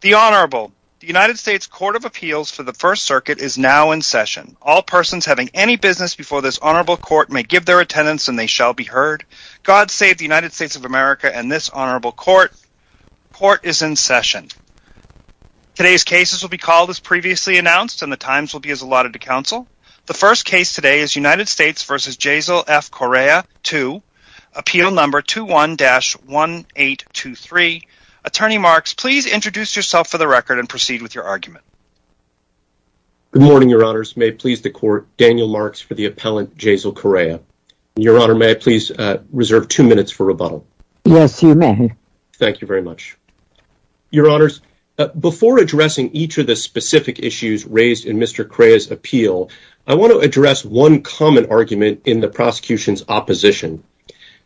The Honorable. The United States Court of Appeals for the First Circuit is now in session. All persons having any business before this Honorable Court may give their attendance and they shall be heard. God save the United States of America and this Honorable Court. Court is in session. Today's cases will be called as previously announced and the times will be as allotted to counsel. The first case today is United States v. Jaisal F. Correia. Please introduce yourself for the record and proceed with your argument. Daniel Marks Good morning, Your Honors. May it please the Court, Daniel Marks for the appellant Jaisal Correia. Your Honor, may I please reserve two minutes for rebuttal? Jaisal Correia Yes, you may. Daniel Marks Thank you very much. Your Honors, before addressing each of the specific issues raised in Mr. Correia's appeal, I want to address one common argument in the prosecution's opposition.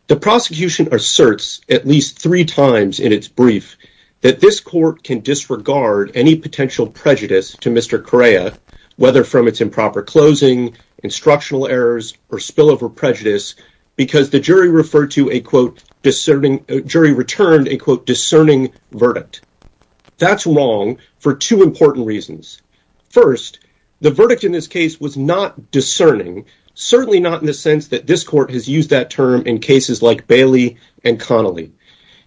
The prosecution asserts at least three times in its brief that this Court can disregard any potential prejudice to Mr. Correia, whether from its improper closing, instructional errors, or spillover prejudice, because the jury referred to a, quote, discerning, jury returned a, quote, discerning verdict. That's wrong for two important reasons. First, the verdict in this case was not discerning, certainly not in the sense that this Court has used that term in cases like Bailey and Connolly.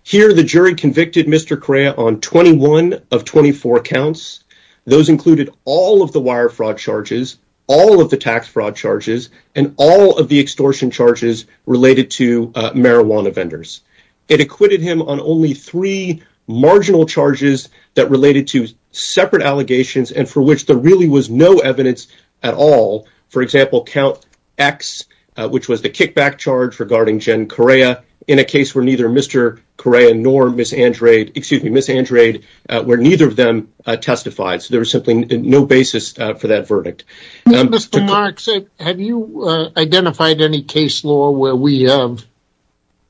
Here, the jury convicted Mr. Correia on 21 of 24 counts. Those included all of the wire fraud charges, all of the tax fraud charges, and all of the extortion charges related to marijuana vendors. It acquitted him on only three marginal charges that related to separate allegations and for which there really was no evidence at all, for example, count X, which was the kickback charge regarding Jen Correia in a case where neither Mr. Correia nor Ms. Andrade, excuse me, Ms. Andrade, where neither of them testified. So there was simply no basis for that verdict. Mr. Marks, have you identified any case law where we have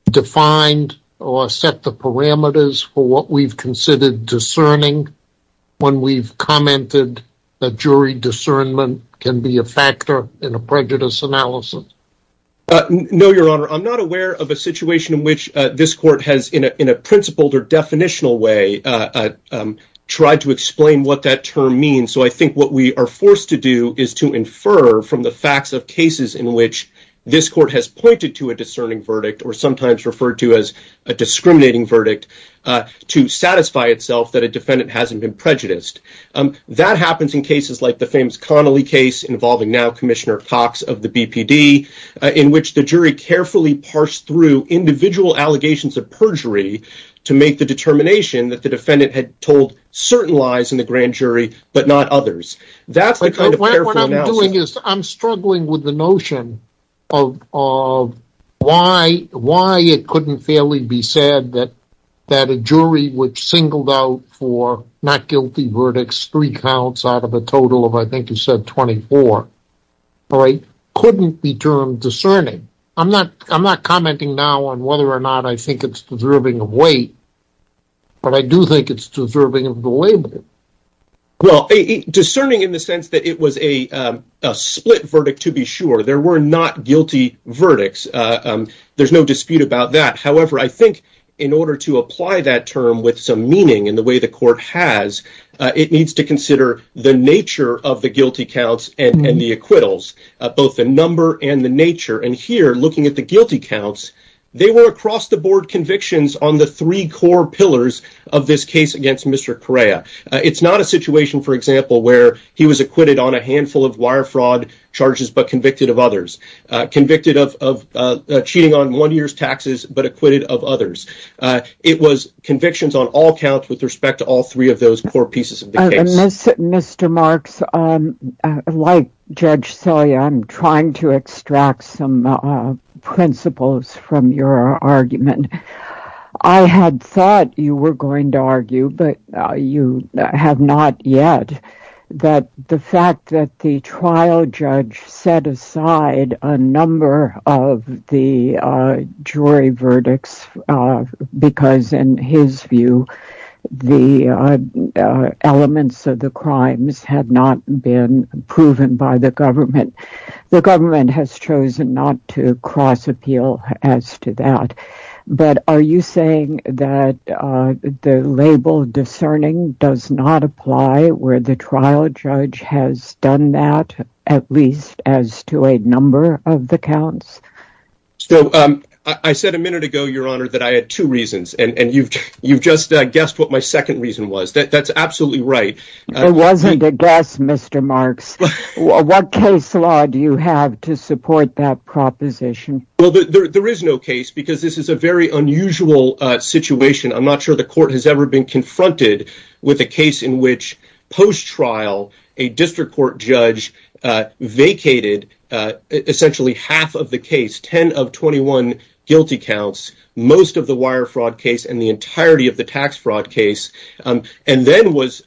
defined or set the parameters for what we've considered discerning when we've commented that jury discernment can be a factor in a prejudice analysis? No, Your Honor. I'm not aware of a situation in which this Court has, in a principled or definitional way, tried to explain what that term means. So I think what we are forced to do is to infer from the facts of cases in which this Court has pointed to a discerning verdict, or sometimes referred to as a discriminating verdict, to satisfy itself that a defendant hasn't been prejudiced. That happens in cases like the famous Connolly case involving now Commissioner Cox of the BPD, in which the jury carefully parsed through individual allegations of perjury to make the determination that the defendant had told certain lies in the grand jury, but not others. That's the kind of careful analysis— What I'm doing is I'm struggling with the notion of why it couldn't fairly be said that a jury which singled out for not guilty verdicts three counts out of a total of, I think you said, 24, couldn't be termed discerning. I'm not commenting now on whether or not I think it's deserving of weight, but I do think it's deserving of the label. Well, discerning in the sense that it was a verdict to be sure. There were not guilty verdicts. There's no dispute about that. However, I think in order to apply that term with some meaning in the way the Court has, it needs to consider the nature of the guilty counts and the acquittals, both the number and the nature. Here, looking at the guilty counts, they were across-the-board convictions on the three core pillars of this case against Mr. Correa. It's not a situation, for example, where he was acquitted on a handful of wire fraud charges, but convicted of others. Convicted of cheating on one year's taxes, but acquitted of others. It was convictions on all counts with respect to all three of those core pieces of the case. Mr. Marks, like Judge Celia, I'm trying to extract some principles from your argument. I had thought you were going to argue, but you have not yet, that the fact that the trial judge set aside a number of the jury verdicts because, in his view, the elements of the crimes had not been proven by the government. The government has chosen not to trial judge has done that, at least as to a number of the counts. So, I said a minute ago, Your Honor, that I had two reasons, and you've just guessed what my second reason was. That's absolutely right. It wasn't a guess, Mr. Marks. What case law do you have to support that proposition? Well, there is no case because this is a very unusual situation. I'm not sure the court has ever been confronted with a case in which, post-trial, a district court judge vacated essentially half of the case, 10 of 21 guilty counts, most of the wire fraud case, and the entirety of the tax fraud case, and then was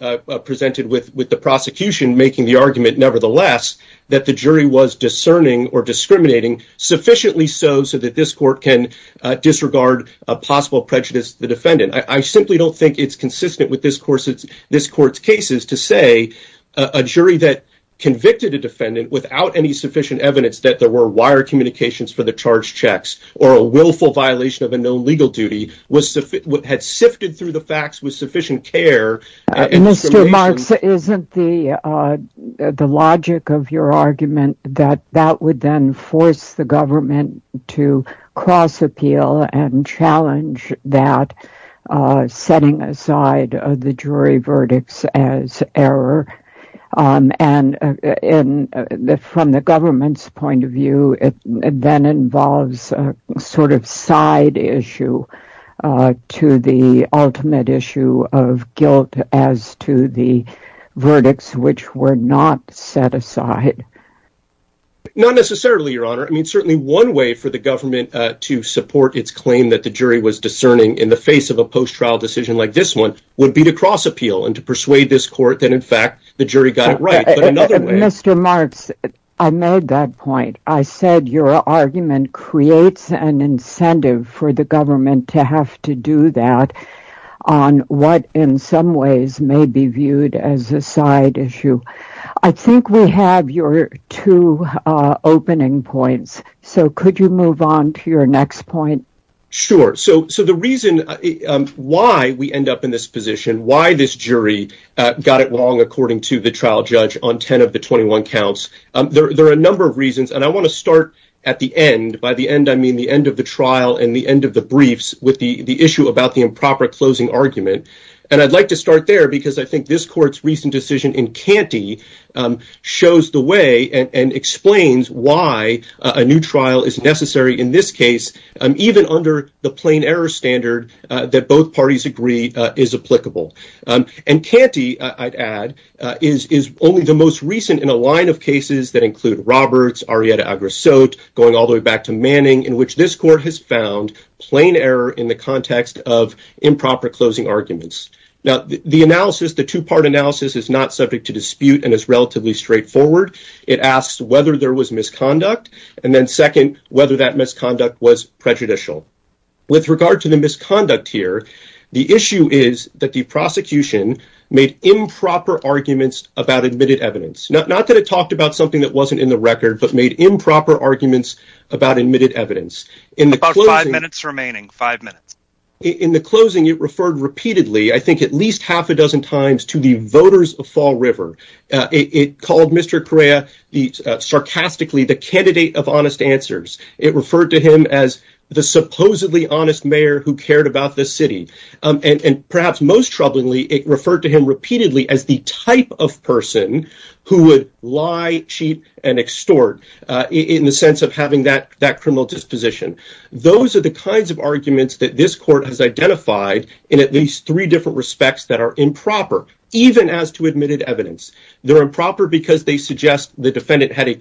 presented with the prosecution making the argument, nevertheless, that the jury was discerning or discriminating, sufficiently so that this court can disregard a possible prejudice of the defendant. I simply don't think it's consistent with this court's cases to say a jury that convicted a defendant without any sufficient evidence that there were wire communications for the charged checks, or a willful violation of a known legal duty, had sifted through the facts with sufficient care. Mr. Marks, isn't the logic of your argument that that would then force the government to cross-appeal and challenge that, setting aside the jury verdicts as error? From the government's point of view, it then involves a sort of side issue to the ultimate issue of guilt as to the verdicts which were not set aside. Not necessarily, Your Honor. I mean, certainly one way for the government to support its claim that the jury was discerning in the face of a post-trial decision like this one would be to cross-appeal and to persuade this court that, in fact, the jury got it right. Mr. Marks, I made that point. I said your argument creates an incentive for the government to have to do that on what, in some ways, may be viewed as a side issue. I think we have your two opening points, so could you move on to your next point? Sure. So the reason why we end up in this position, why this jury got it wrong, according to the trial judge, on 10 of the 21 counts, there are a number of reasons, and I want to start at the end. By the end, I mean the end of the trial and the end of the briefs with the issue about the improper closing argument. And I'd like to start there because I think this court's recent decision in Canty shows the way and explains why a new trial is necessary in this case, even under the plain error standard that both parties agree is applicable. And Canty, I'd add, is only the most recent in a line of cases that include Roberts, Arrieta-Agrassot, going all the way back to Manning, in which this court has found plain error in the context of improper closing arguments. Now, the analysis, the two-part analysis, is not subject to dispute and is relatively straightforward. It asks whether there was misconduct, and then, second, whether that misconduct was prejudicial. With regard to the misconduct here, the issue is that the prosecution made improper arguments about admitted evidence. Not that it talked about something that wasn't in the record, but made improper arguments about admitted evidence. About five minutes remaining. Five minutes. In the closing, it referred repeatedly, I think at least half a dozen times, to the voters of Fall River. It called Mr. Correa, sarcastically, the candidate of honest answers. It referred to him as the supposedly honest mayor who cared about the city. And perhaps most troublingly, it referred to him repeatedly as the type of person who would lie cheap and extort in the sense of having that criminal disposition. Those are the kinds of arguments that this court has identified in at least three different respects that are improper, even as to admitted evidence. They're improper because they suggest the defendant had a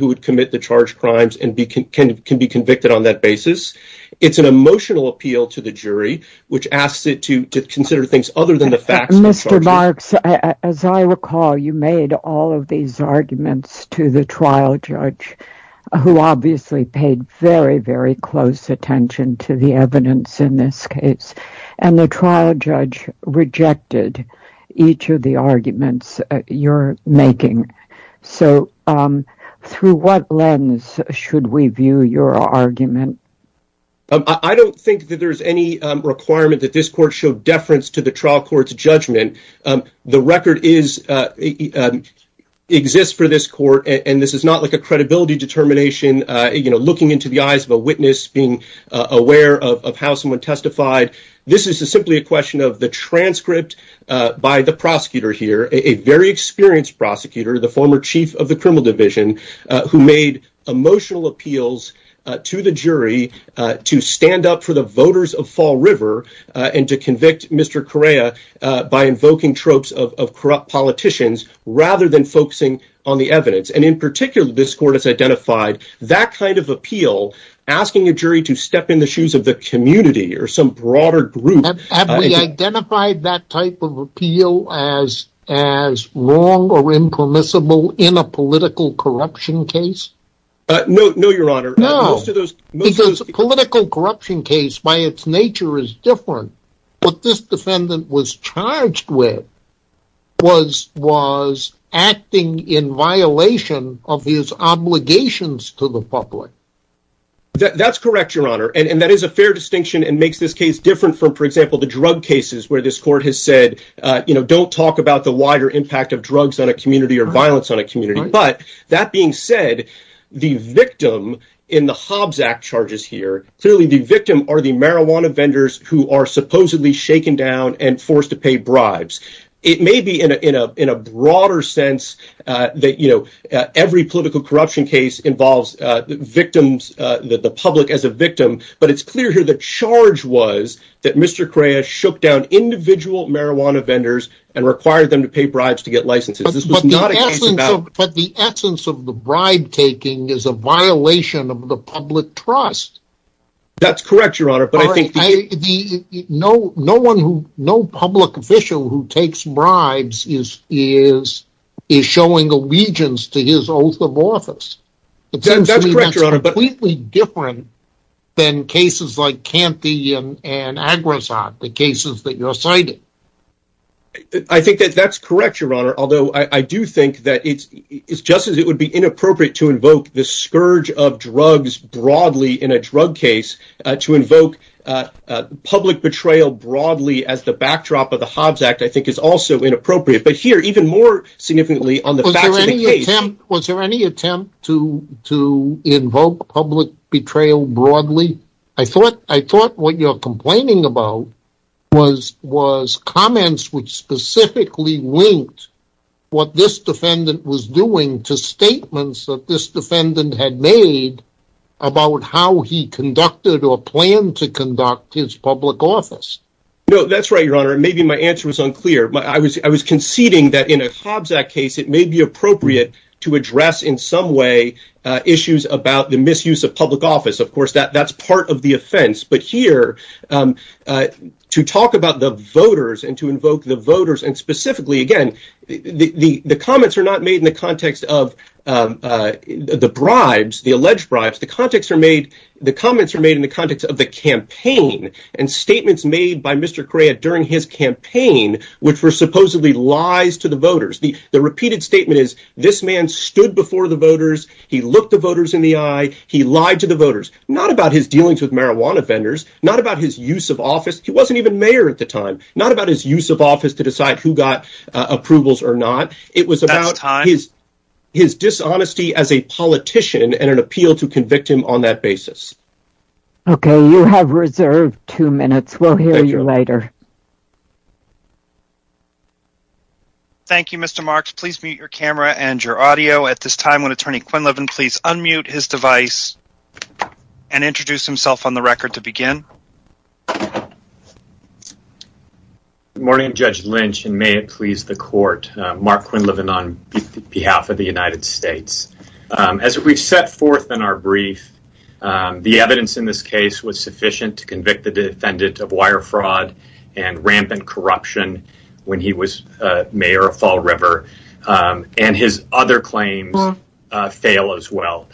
would commit the charged crimes and can be convicted on that basis. It's an emotional appeal to the jury, which asks it to consider things other than the facts. Mr. Marks, as I recall, you made all of these arguments to the trial judge, who obviously paid very, very close attention to the evidence in this case. And the trial judge rejected each of the arguments you're making. So through what lens should we view your argument? I don't think that there's any requirement that this court show deference to the trial court's judgment. The record exists for this court, and this is not like a credibility determination, you know, looking into the eyes of a witness, being aware of how someone testified. This is simply a question of the transcript by the prosecutor here, a very experienced prosecutor, the former chief of the criminal division, who made emotional appeals to the jury to stand up for the voters of Fall River and to convict Mr. Correa by invoking tropes of corrupt politicians rather than focusing on the evidence. And in particular, this court has identified that kind of appeal, asking a jury to step in the shoes of the community or some broader group. Have we identified that type of appeal as wrong or impermissible in a political corruption case? No, your honor. No. Because a political corruption case by its nature is different. What this defendant was charged with was was acting in violation of his obligations to the public. That's correct, your honor. And that is a fair distinction and makes this case different from, for example, the drug cases where this court has said, you know, don't talk about the wider impact of drugs on a community or violence on a community. But that being said, the victim in the Hobbs Act charges here, clearly the victim are the marijuana vendors who are supposedly shaken down and forced to pay bribes. It may be in a broader sense that, you know, every political corruption case involves victims, the public as a victim. But it's clear here the charge was that Mr. Correa shook down individual marijuana vendors and required them to pay bribes to get licenses. But the essence of the bribe taking is a violation of the public trust. That's correct, your honor. But I think no, no one who no public official who takes bribes is showing allegiance to his oath of office. That's completely different than cases like I do think that it's just as it would be inappropriate to invoke the scourge of drugs broadly in a drug case to invoke public betrayal broadly as the backdrop of the Hobbs Act, I think is also inappropriate. But here, even more significantly on the fact of the case. Was there any attempt to invoke public betrayal broadly? I thought what you're complaining about was was comments which specifically linked what this defendant was doing to statements that this defendant had made about how he conducted or planned to conduct his public office. No, that's right, your honor. Maybe my answer was unclear, but I was I was conceding that in a Hobbs Act case, it may be appropriate to address in some way issues about the misuse of public office. Of course, that's part of the offense. But here to talk about the voters and to invoke the voters and specifically, again, the comments are not made in the context of the bribes, the alleged bribes. The context are made the comments are made in the context of the campaign and statements made by Mr. Correa during his campaign, which were supposedly lies to the voters. The repeated statement is this man stood before the voters. He looked the voters in the eye. He lied to the voters, not about his dealings with marijuana vendors, not about his use of office. He wasn't even mayor at the time, not about his use of office to decide who got approvals or not. It was about his his dishonesty as a politician and an appeal to convict him on that basis. OK, you have reserved two minutes. We'll hear you later. Thank you, Mr. Marks. Please mute your camera and your audio at this time. Attorney Quinlivan, please unmute his device and introduce himself on the record to begin. Morning, Judge Lynch, and may it please the court, Mark Quinlivan on behalf of the United States. As we've set forth in our brief, the evidence in this case was sufficient to convict the defendant of wire fraud and rampant corruption when he was mayor of Fall River and his other claims. Fail as well.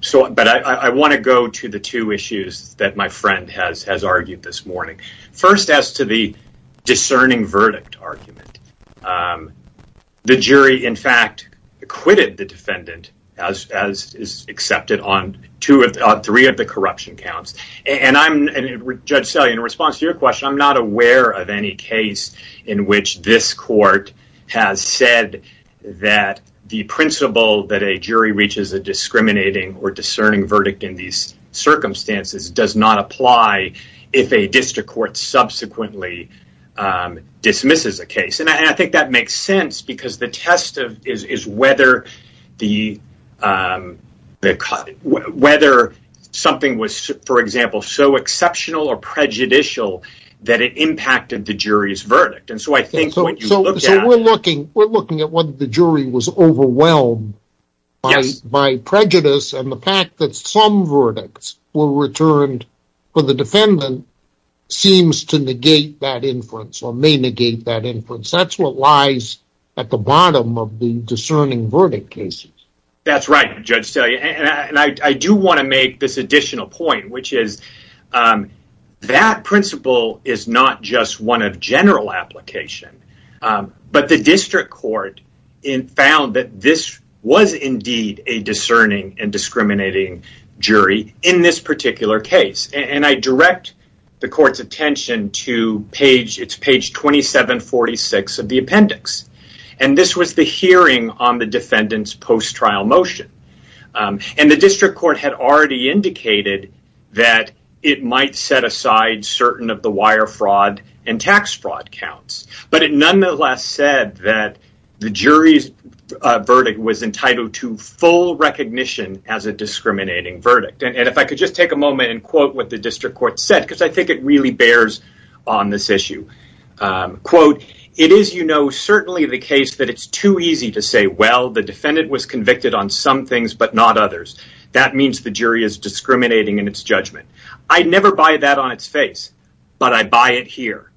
So but I want to go to the two issues that my friend has has argued this morning. First, as to the discerning verdict argument, the jury, in fact, acquitted the defendant, as as is accepted on two or three of the corruption counts. And I'm a judge, so in response to your question, I'm not aware of any case in which this court has said that the principle that a jury reaches a discriminating or discerning verdict in these circumstances does not apply if a district court subsequently dismisses a case. And I think that makes sense because the test of is whether the whether something was, for example, so exceptional or prejudicial that it impacted the jury's verdict. And so I think we're looking we're looking at the jury was overwhelmed by prejudice. And the fact that some verdicts were returned for the defendant seems to negate that inference or may negate that inference. That's what lies at the bottom of the discerning verdict cases. That's right. And I do want to make this additional point, which is that principle is not just one of general application, but the district court found that this was indeed a discerning and discriminating jury in this particular case. And I direct the court's attention to page it's page 27, 46 of the appendix. And this was the hearing on the defendant's post-trial motion. And the district court had already indicated that it might set aside certain of the wire fraud and tax fraud counts. But it nonetheless said that the jury's verdict was entitled to full recognition as a discriminating verdict. And if I could just take a moment and quote what the district court said, because I think it really bears on this issue, quote, It is, you know, certainly the case that it's too easy to say, well, the defendant was convicted on some things, but not others. That means the jury is discriminating in its judgment. I never buy that on its face, but I buy it here.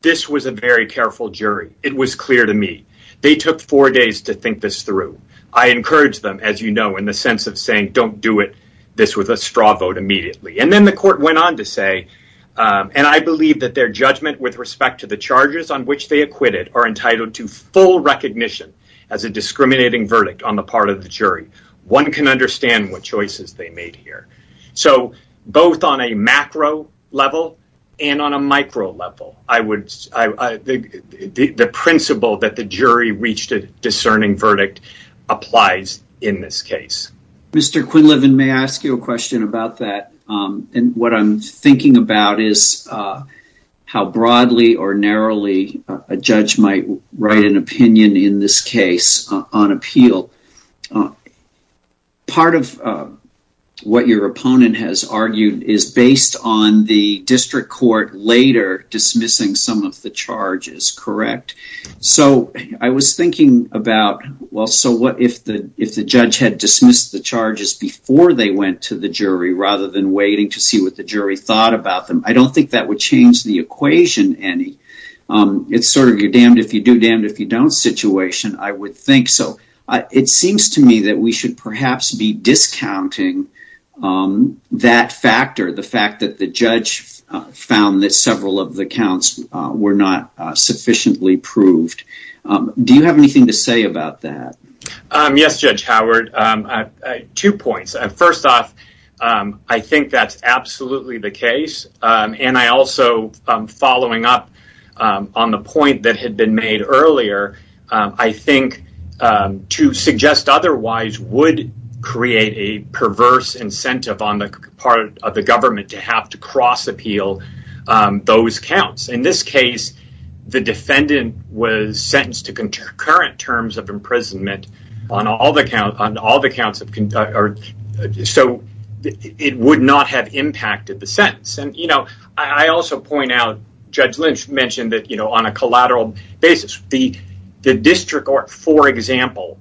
This was a very careful jury. It was clear to me. They took four days to think this through. I encourage them, as you know, in the sense of saying, don't do it. This was a straw vote immediately. And then the court went on to say, and I believe that their judgment with respect to the charges on which they acquitted are entitled to full recognition as a discriminating verdict on the part of the jury. One can understand what choices they made here. So both on a macro level and on a micro level, the principle that the jury reached a discerning verdict applies in this case. Mr. Quinlivan, may I ask you a question about that? And what I'm thinking about is how broadly or narrowly a judge might write an opinion in this case on appeal. Well, part of what your opponent has argued is based on the district court later dismissing some of the charges, correct? So I was thinking about, well, so what if the judge had dismissed the charges before they went to the jury rather than waiting to see what the jury thought about them? I don't think that would change the equation any. It's sort of a damned if you do, damned if you I would think so. It seems to me that we should perhaps be discounting that factor, the fact that the judge found that several of the counts were not sufficiently proved. Do you have anything to say about that? Yes, Judge Howard. Two points. First off, I think that's absolutely the case. And I also, following up on the point that had been made earlier, I think to suggest otherwise would create a perverse incentive on the part of the government to have to cross appeal those counts. In this case, the defendant was sentenced to concurrent terms of imprisonment on all the or so it would not have impacted the sentence. And, you know, I also point out Judge Lynch mentioned that, you know, on a collateral basis, the district court, for example,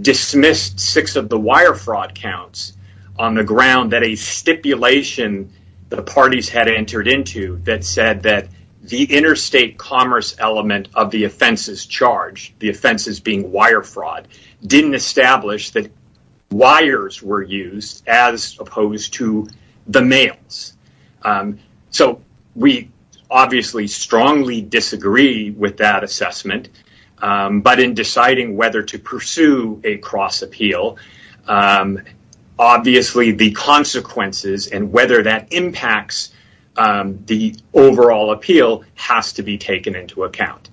dismissed six of the wire fraud counts on the ground that a stipulation the parties had entered into that said that the interstate commerce element of the offenses charged, the offenses being wire fraud, didn't establish that wires were used as opposed to the mails. So we obviously strongly disagree with that assessment. But in deciding whether to pursue a cross appeal, obviously the consequences and whether that impacts the overall appeal has to be taken into account.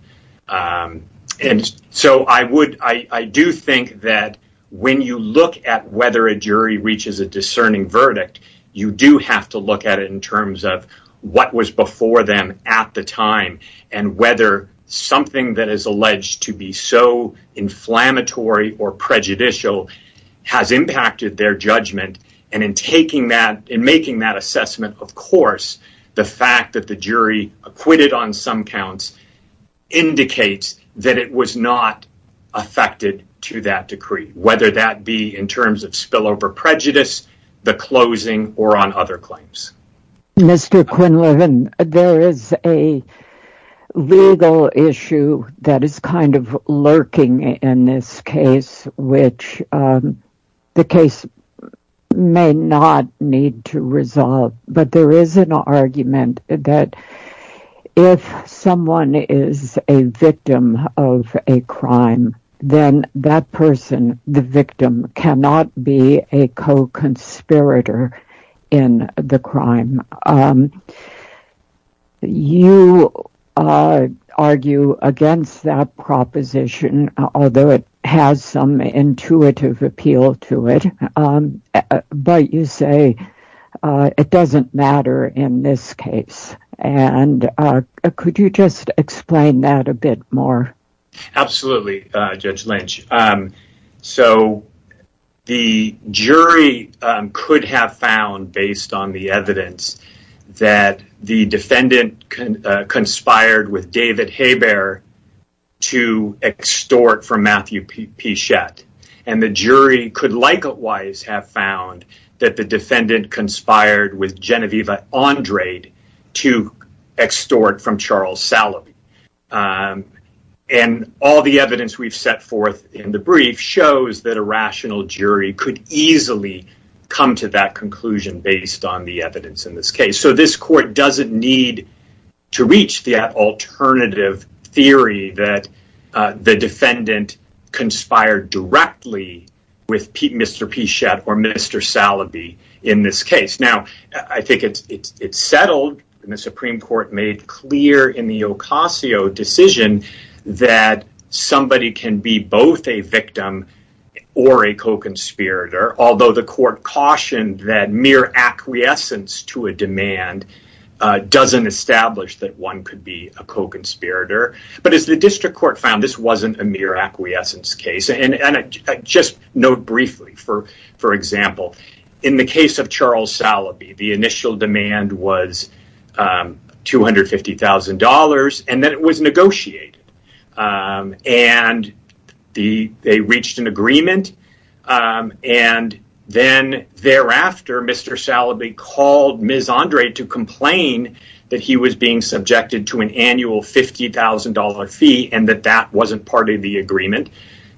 And so I would I do think that when you look at whether a jury reaches a discerning verdict, you do have to look at it in terms of what was before them at the time and whether something that is alleged to be so inflammatory or prejudicial has impacted their on some counts, indicates that it was not affected to that decree, whether that be in terms of spillover prejudice, the closing or on other claims. Mr. Quinlivan, there is a legal issue that is kind of lurking in this case, which the case may not need to resolve. But there is an argument that if someone is a victim of a crime, then that person, the victim, cannot be a co-conspirator in the crime. You argue against that proposition, although it has some intuitive appeal to it. But you say it doesn't matter in this case. And could you just explain that a bit more? Absolutely, Judge Lynch. So the jury could have found, based on the evidence, that the defendant conspired with David Hebert to extort from Matthew Pichette. And the jury could likewise have found that the defendant conspired with Genevieve Andrade to extort from Charles Salaby. And all the evidence we've set in the brief shows that a rational jury could easily come to that conclusion based on the evidence in this case. So this court doesn't need to reach that alternative theory that the defendant conspired directly with Mr. Pichette or Mr. Salaby in this case. Now, I think it's settled and the Supreme Court made clear in the Ocasio decision that somebody can be both a victim or a co-conspirator, although the court cautioned that mere acquiescence to a demand doesn't establish that one could be a co-conspirator. But as the district court found, this wasn't a mere acquiescence case. And just note briefly, for example, in the case of Charles Salaby, the initial demand was $250,000 and that it was negotiated. And they reached an agreement. And then thereafter, Mr. Salaby called Ms. Andrade to complain that he was being subjected to an annual $50,000 fee and that that wasn't part of the agreement.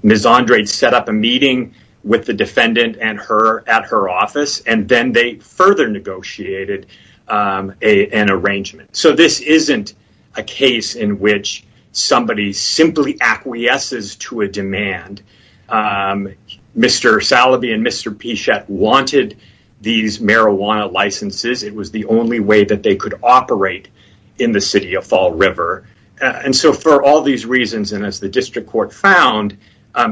Ms. Andrade set up a meeting with the defendant at her office, and then they further negotiated an arrangement. So this isn't a case in which somebody simply acquiesces to a demand. Mr. Salaby and Mr. Pichette wanted these marijuana licenses. It was the only way that they could operate in the city of Fall River. And so for all these reasons, and as the district court found,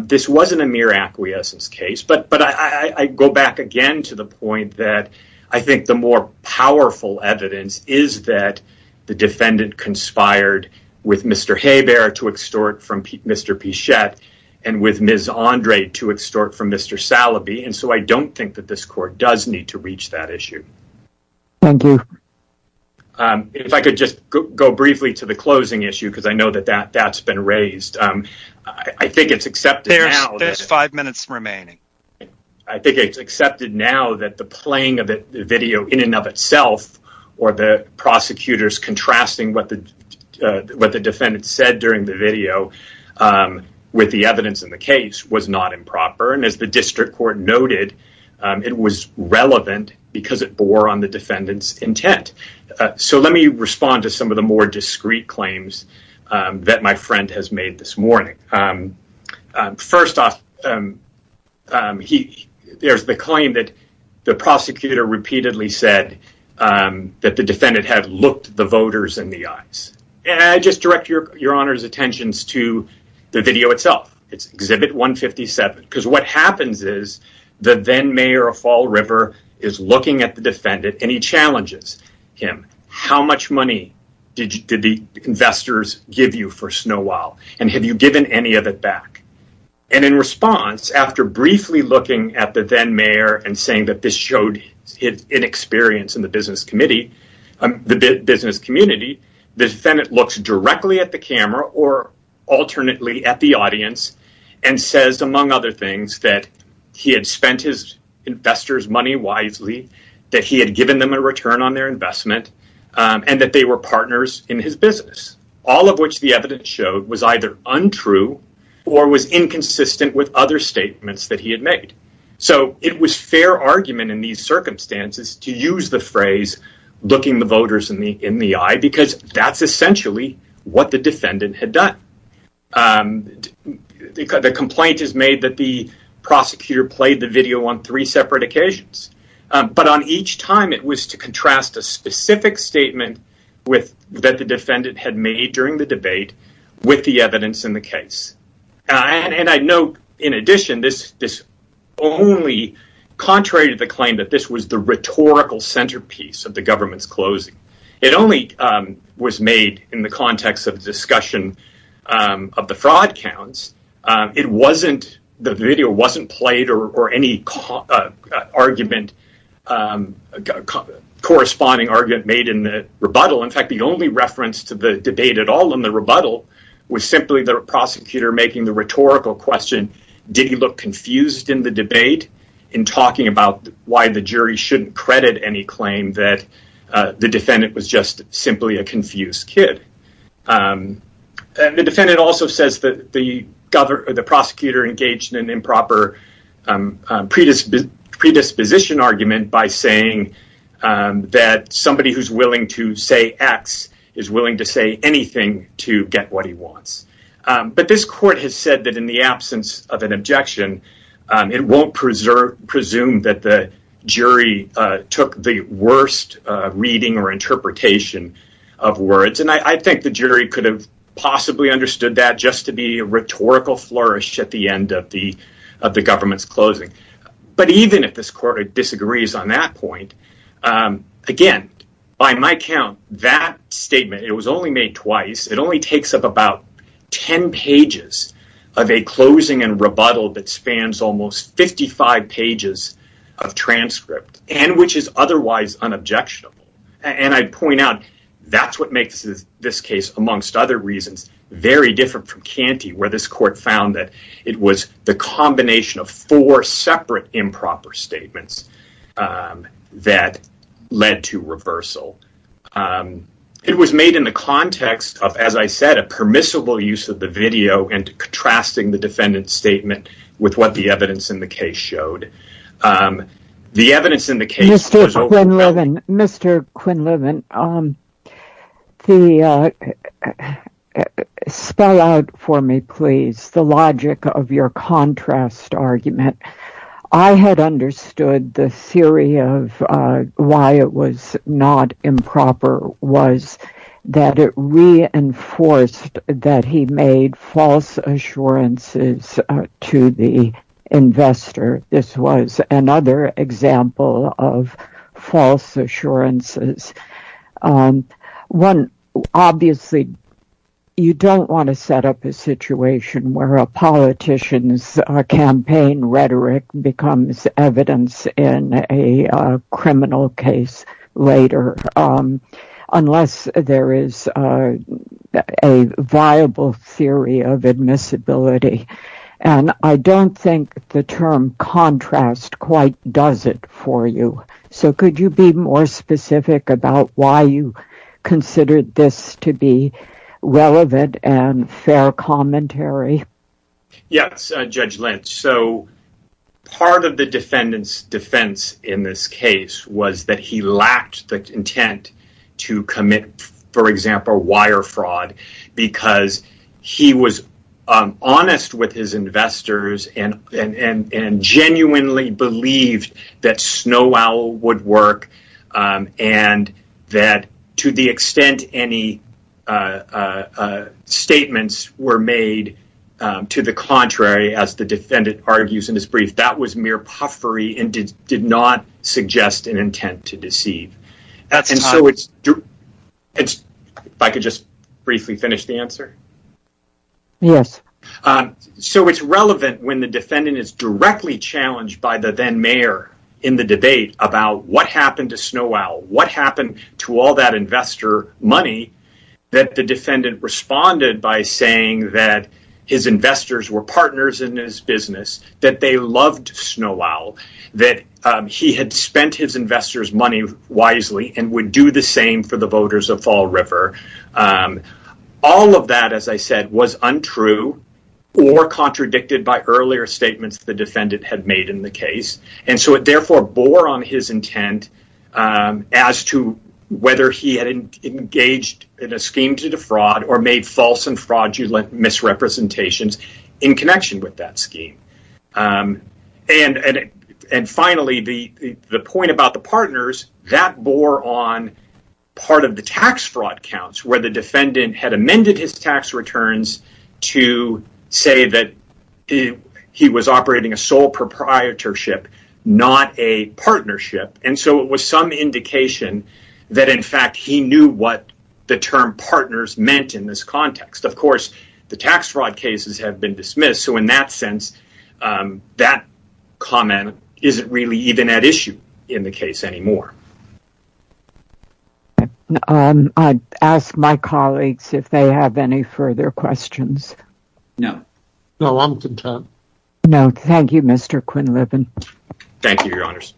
this wasn't a mere acquiescence case. But I go back again to the point that I think the more powerful evidence is that the defendant conspired with Mr. Hebert to extort from Mr. Pichette and with Ms. Andrade to extort from Mr. Salaby. And so I don't think that this court does need to reach that issue. Thank you. If I could just go briefly to the closing issue, because I know that that's been raised. I think it's accepted now. There's five that the playing of the video in and of itself or the prosecutors contrasting what the defendant said during the video with the evidence in the case was not improper. And as the district court noted, it was relevant because it bore on the defendant's intent. So let me respond to some of the more the prosecutor repeatedly said that the defendant had looked the voters in the eyes. And I just direct your honor's attentions to the video itself. It's exhibit 157. Because what happens is the then mayor of Fall River is looking at the defendant and he challenges him. How much money did the investors give you for Snow Owl? And have you given any of it back? And in response, after briefly looking at the then mayor and saying that this showed his inexperience in the business committee, the business community, the defendant looks directly at the camera or alternately at the audience and says, among other things, that he had spent his investors money wisely, that he had given them a return on their investment and that they were partners in his business, all of which the evidence showed was either untrue or was inconsistent with other statements that he had made. So it was fair argument in these circumstances to use the phrase, looking the voters in the eye, because that's essentially what the defendant had done. The complaint is made that the prosecutor played the video on three separate occasions. But on each time, it was to contrast a specific statement with that defendant had made during the debate with the evidence in the case. And I know in addition, this only, contrary to the claim that this was the rhetorical centerpiece of the government's closing, it only was made in the context of discussion of the fraud counts. It wasn't, the video wasn't played or any argument, corresponding argument made in the rebuttal. In fact, the only reference to the debate at all in the rebuttal was simply the prosecutor making the rhetorical question, did he look confused in the debate in talking about why the jury shouldn't credit any claim that the defendant was just simply a confused kid. The defendant also says that the governor, the prosecutor engaged in an improper predisposition argument by saying that somebody who's willing to say X is willing to say anything to get what he wants. But this court has said that in the absence of an objection, it won't presume that the jury took the worst reading or interpretation of words. And I think the jury could have possibly understood that just to be rhetorical flourish at the end of the government's closing. But even if this court disagrees on that point, again, by my count, that statement, it was only made twice. It only takes up about 10 pages of a closing and rebuttal that spans almost 55 pages of transcript and which is otherwise unobjectionable. And I'd point out that's what makes this case, amongst other reasons, very different from Canty, where this court found that it was the combination of four separate improper statements that led to reversal. It was made in the context of, as I said, a permissible use of the video and contrasting the defendant's statement with what the evidence in Mr. Quinlivan. Spell out for me, please, the logic of your contrast argument. I had understood the theory of why it was not improper was that it reinforced that he made false assurances to the investor. This was another example of false assurances. Obviously, you don't want to set up a situation where a politician's campaign rhetoric becomes evidence in a criminal case later unless there is a viable theory of admissibility. And I don't think the term contrast quite does it for you. So, could you be more specific about why you considered this to be relevant and fair commentary? Yes, Judge Lynch. So, part of the defendant's defense in this case was that he lacked the intent to commit, for example, wire fraud because he was honest with his investors and genuinely believed that Snow Owl would work and that to the extent any statements were made to the contrary, as the defendant argues in his brief, that was mere puffery and did not suggest an intent to deceive. If I could just briefly finish the answer? Yes. So, it's relevant when the defendant is directly challenged by the then mayor in the debate about what happened to Snow Owl, what happened to all that investor money that the defendant responded by saying that his investors were partners in his business, that they loved Snow Owl, that he had spent his investors' money wisely and would do the same for the voters of Fall River. All of that, as I said, was untrue or contradicted by earlier statements the defendant had made in the case, and so it therefore bore on his intent as to whether he had engaged in a scheme to defraud or made false and in connection with that scheme. Finally, the point about the partners, that bore on part of the tax fraud counts where the defendant had amended his tax returns to say that he was operating a sole proprietorship, not a partnership, and so it was some indication that in fact he knew what the term partners meant in this context. Of course, the tax fraud cases have been dismissed, so in that sense, that comment isn't really even at issue in the case anymore. I'd ask my colleagues if they have any further questions. No. No, I'm content. No, thank you, Mr. Quinlivan. Thank you, Your Honors.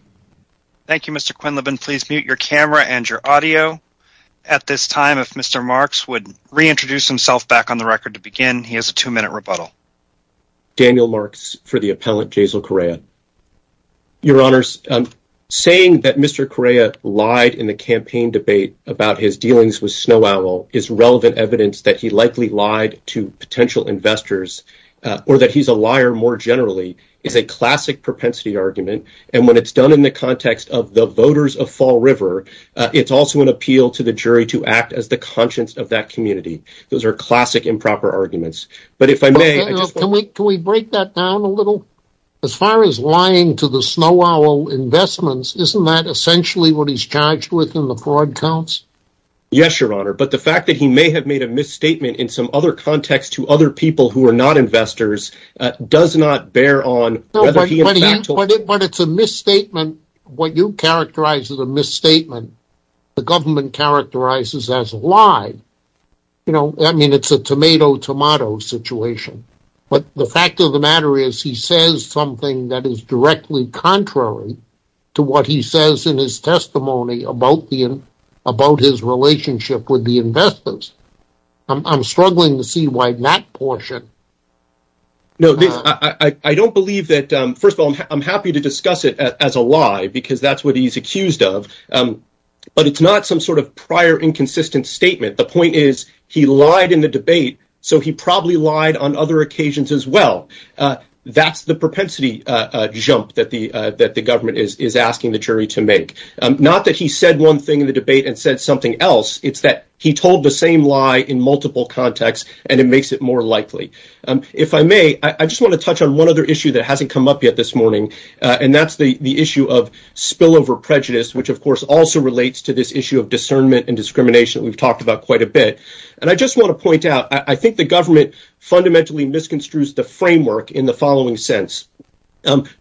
Thank you, Mr. Quinlivan. Please mute your camera and your audio at this time. If Mr. Marks would reintroduce himself back on the record to begin, he has a two-minute rebuttal. Daniel Marks for the appellant, Jaisal Correa. Your Honors, saying that Mr. Correa lied in the campaign debate about his dealings with Snow Owl is relevant evidence that he likely lied to potential investors or that he's a liar more generally is a classic propensity argument, and when it's done in the context of the voters of Fall River, it's also an appeal to the jury to act as the conscience of that community. Those are classic improper arguments, but if I may... Can we break that down a little? As far as lying to the Snow Owl investments, isn't that essentially what he's charged with in the fraud counts? Yes, Your Honor, but the fact that he may have made a misstatement in some other context to other people who are not investors does not bear on whether he in fact... But it's a misstatement, what you characterize as a misstatement, the government characterizes as a lie. You know, I mean, it's a tomato-tomato situation, but the fact of the matter is he says something that is directly contrary to what he says in his testimony about his relationship with the investors. I'm struggling to see why that portion... No, I don't believe that. First of all, I'm happy to discuss it as a lie because that's what he's accused of, but it's not some sort of prior inconsistent statement. The point is he lied in the debate, so he probably lied on other occasions as well. That's the propensity jump that the government is asking the jury to make. Not that he said one thing in the debate and said something else, it's that he told the same lie in multiple contexts, and it makes it more likely. If I may, I just want to touch on one other issue that hasn't come up yet this morning, and that's the issue of spillover prejudice, which of course also relates to this issue of discernment and discrimination that we've talked about quite a bit. And I just want to point out, I think the government fundamentally misconstrues the framework in the following sense.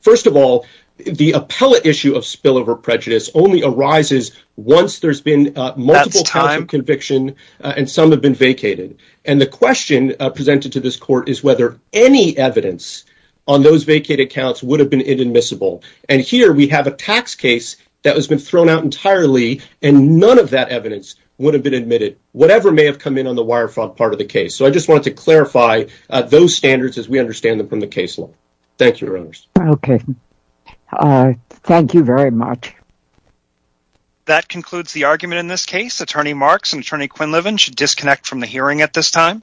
First of all, the appellate issue of spillover prejudice only arises once there's been multiple counts of conviction and some have been vacated, and the question presented to this court is whether any evidence on those vacated counts would have been inadmissible. And here we have a tax case that has been thrown out entirely, and none of that evidence would have been admitted, whatever may have come in on the wirefrog part of the case. So I just wanted to clarify those standards as we understand them from the case law. Thank you, Your Honors. Okay, thank you very much. That concludes the argument in this case. Attorney Marks and Attorney Quinlivan should disconnect from the hearing at this time.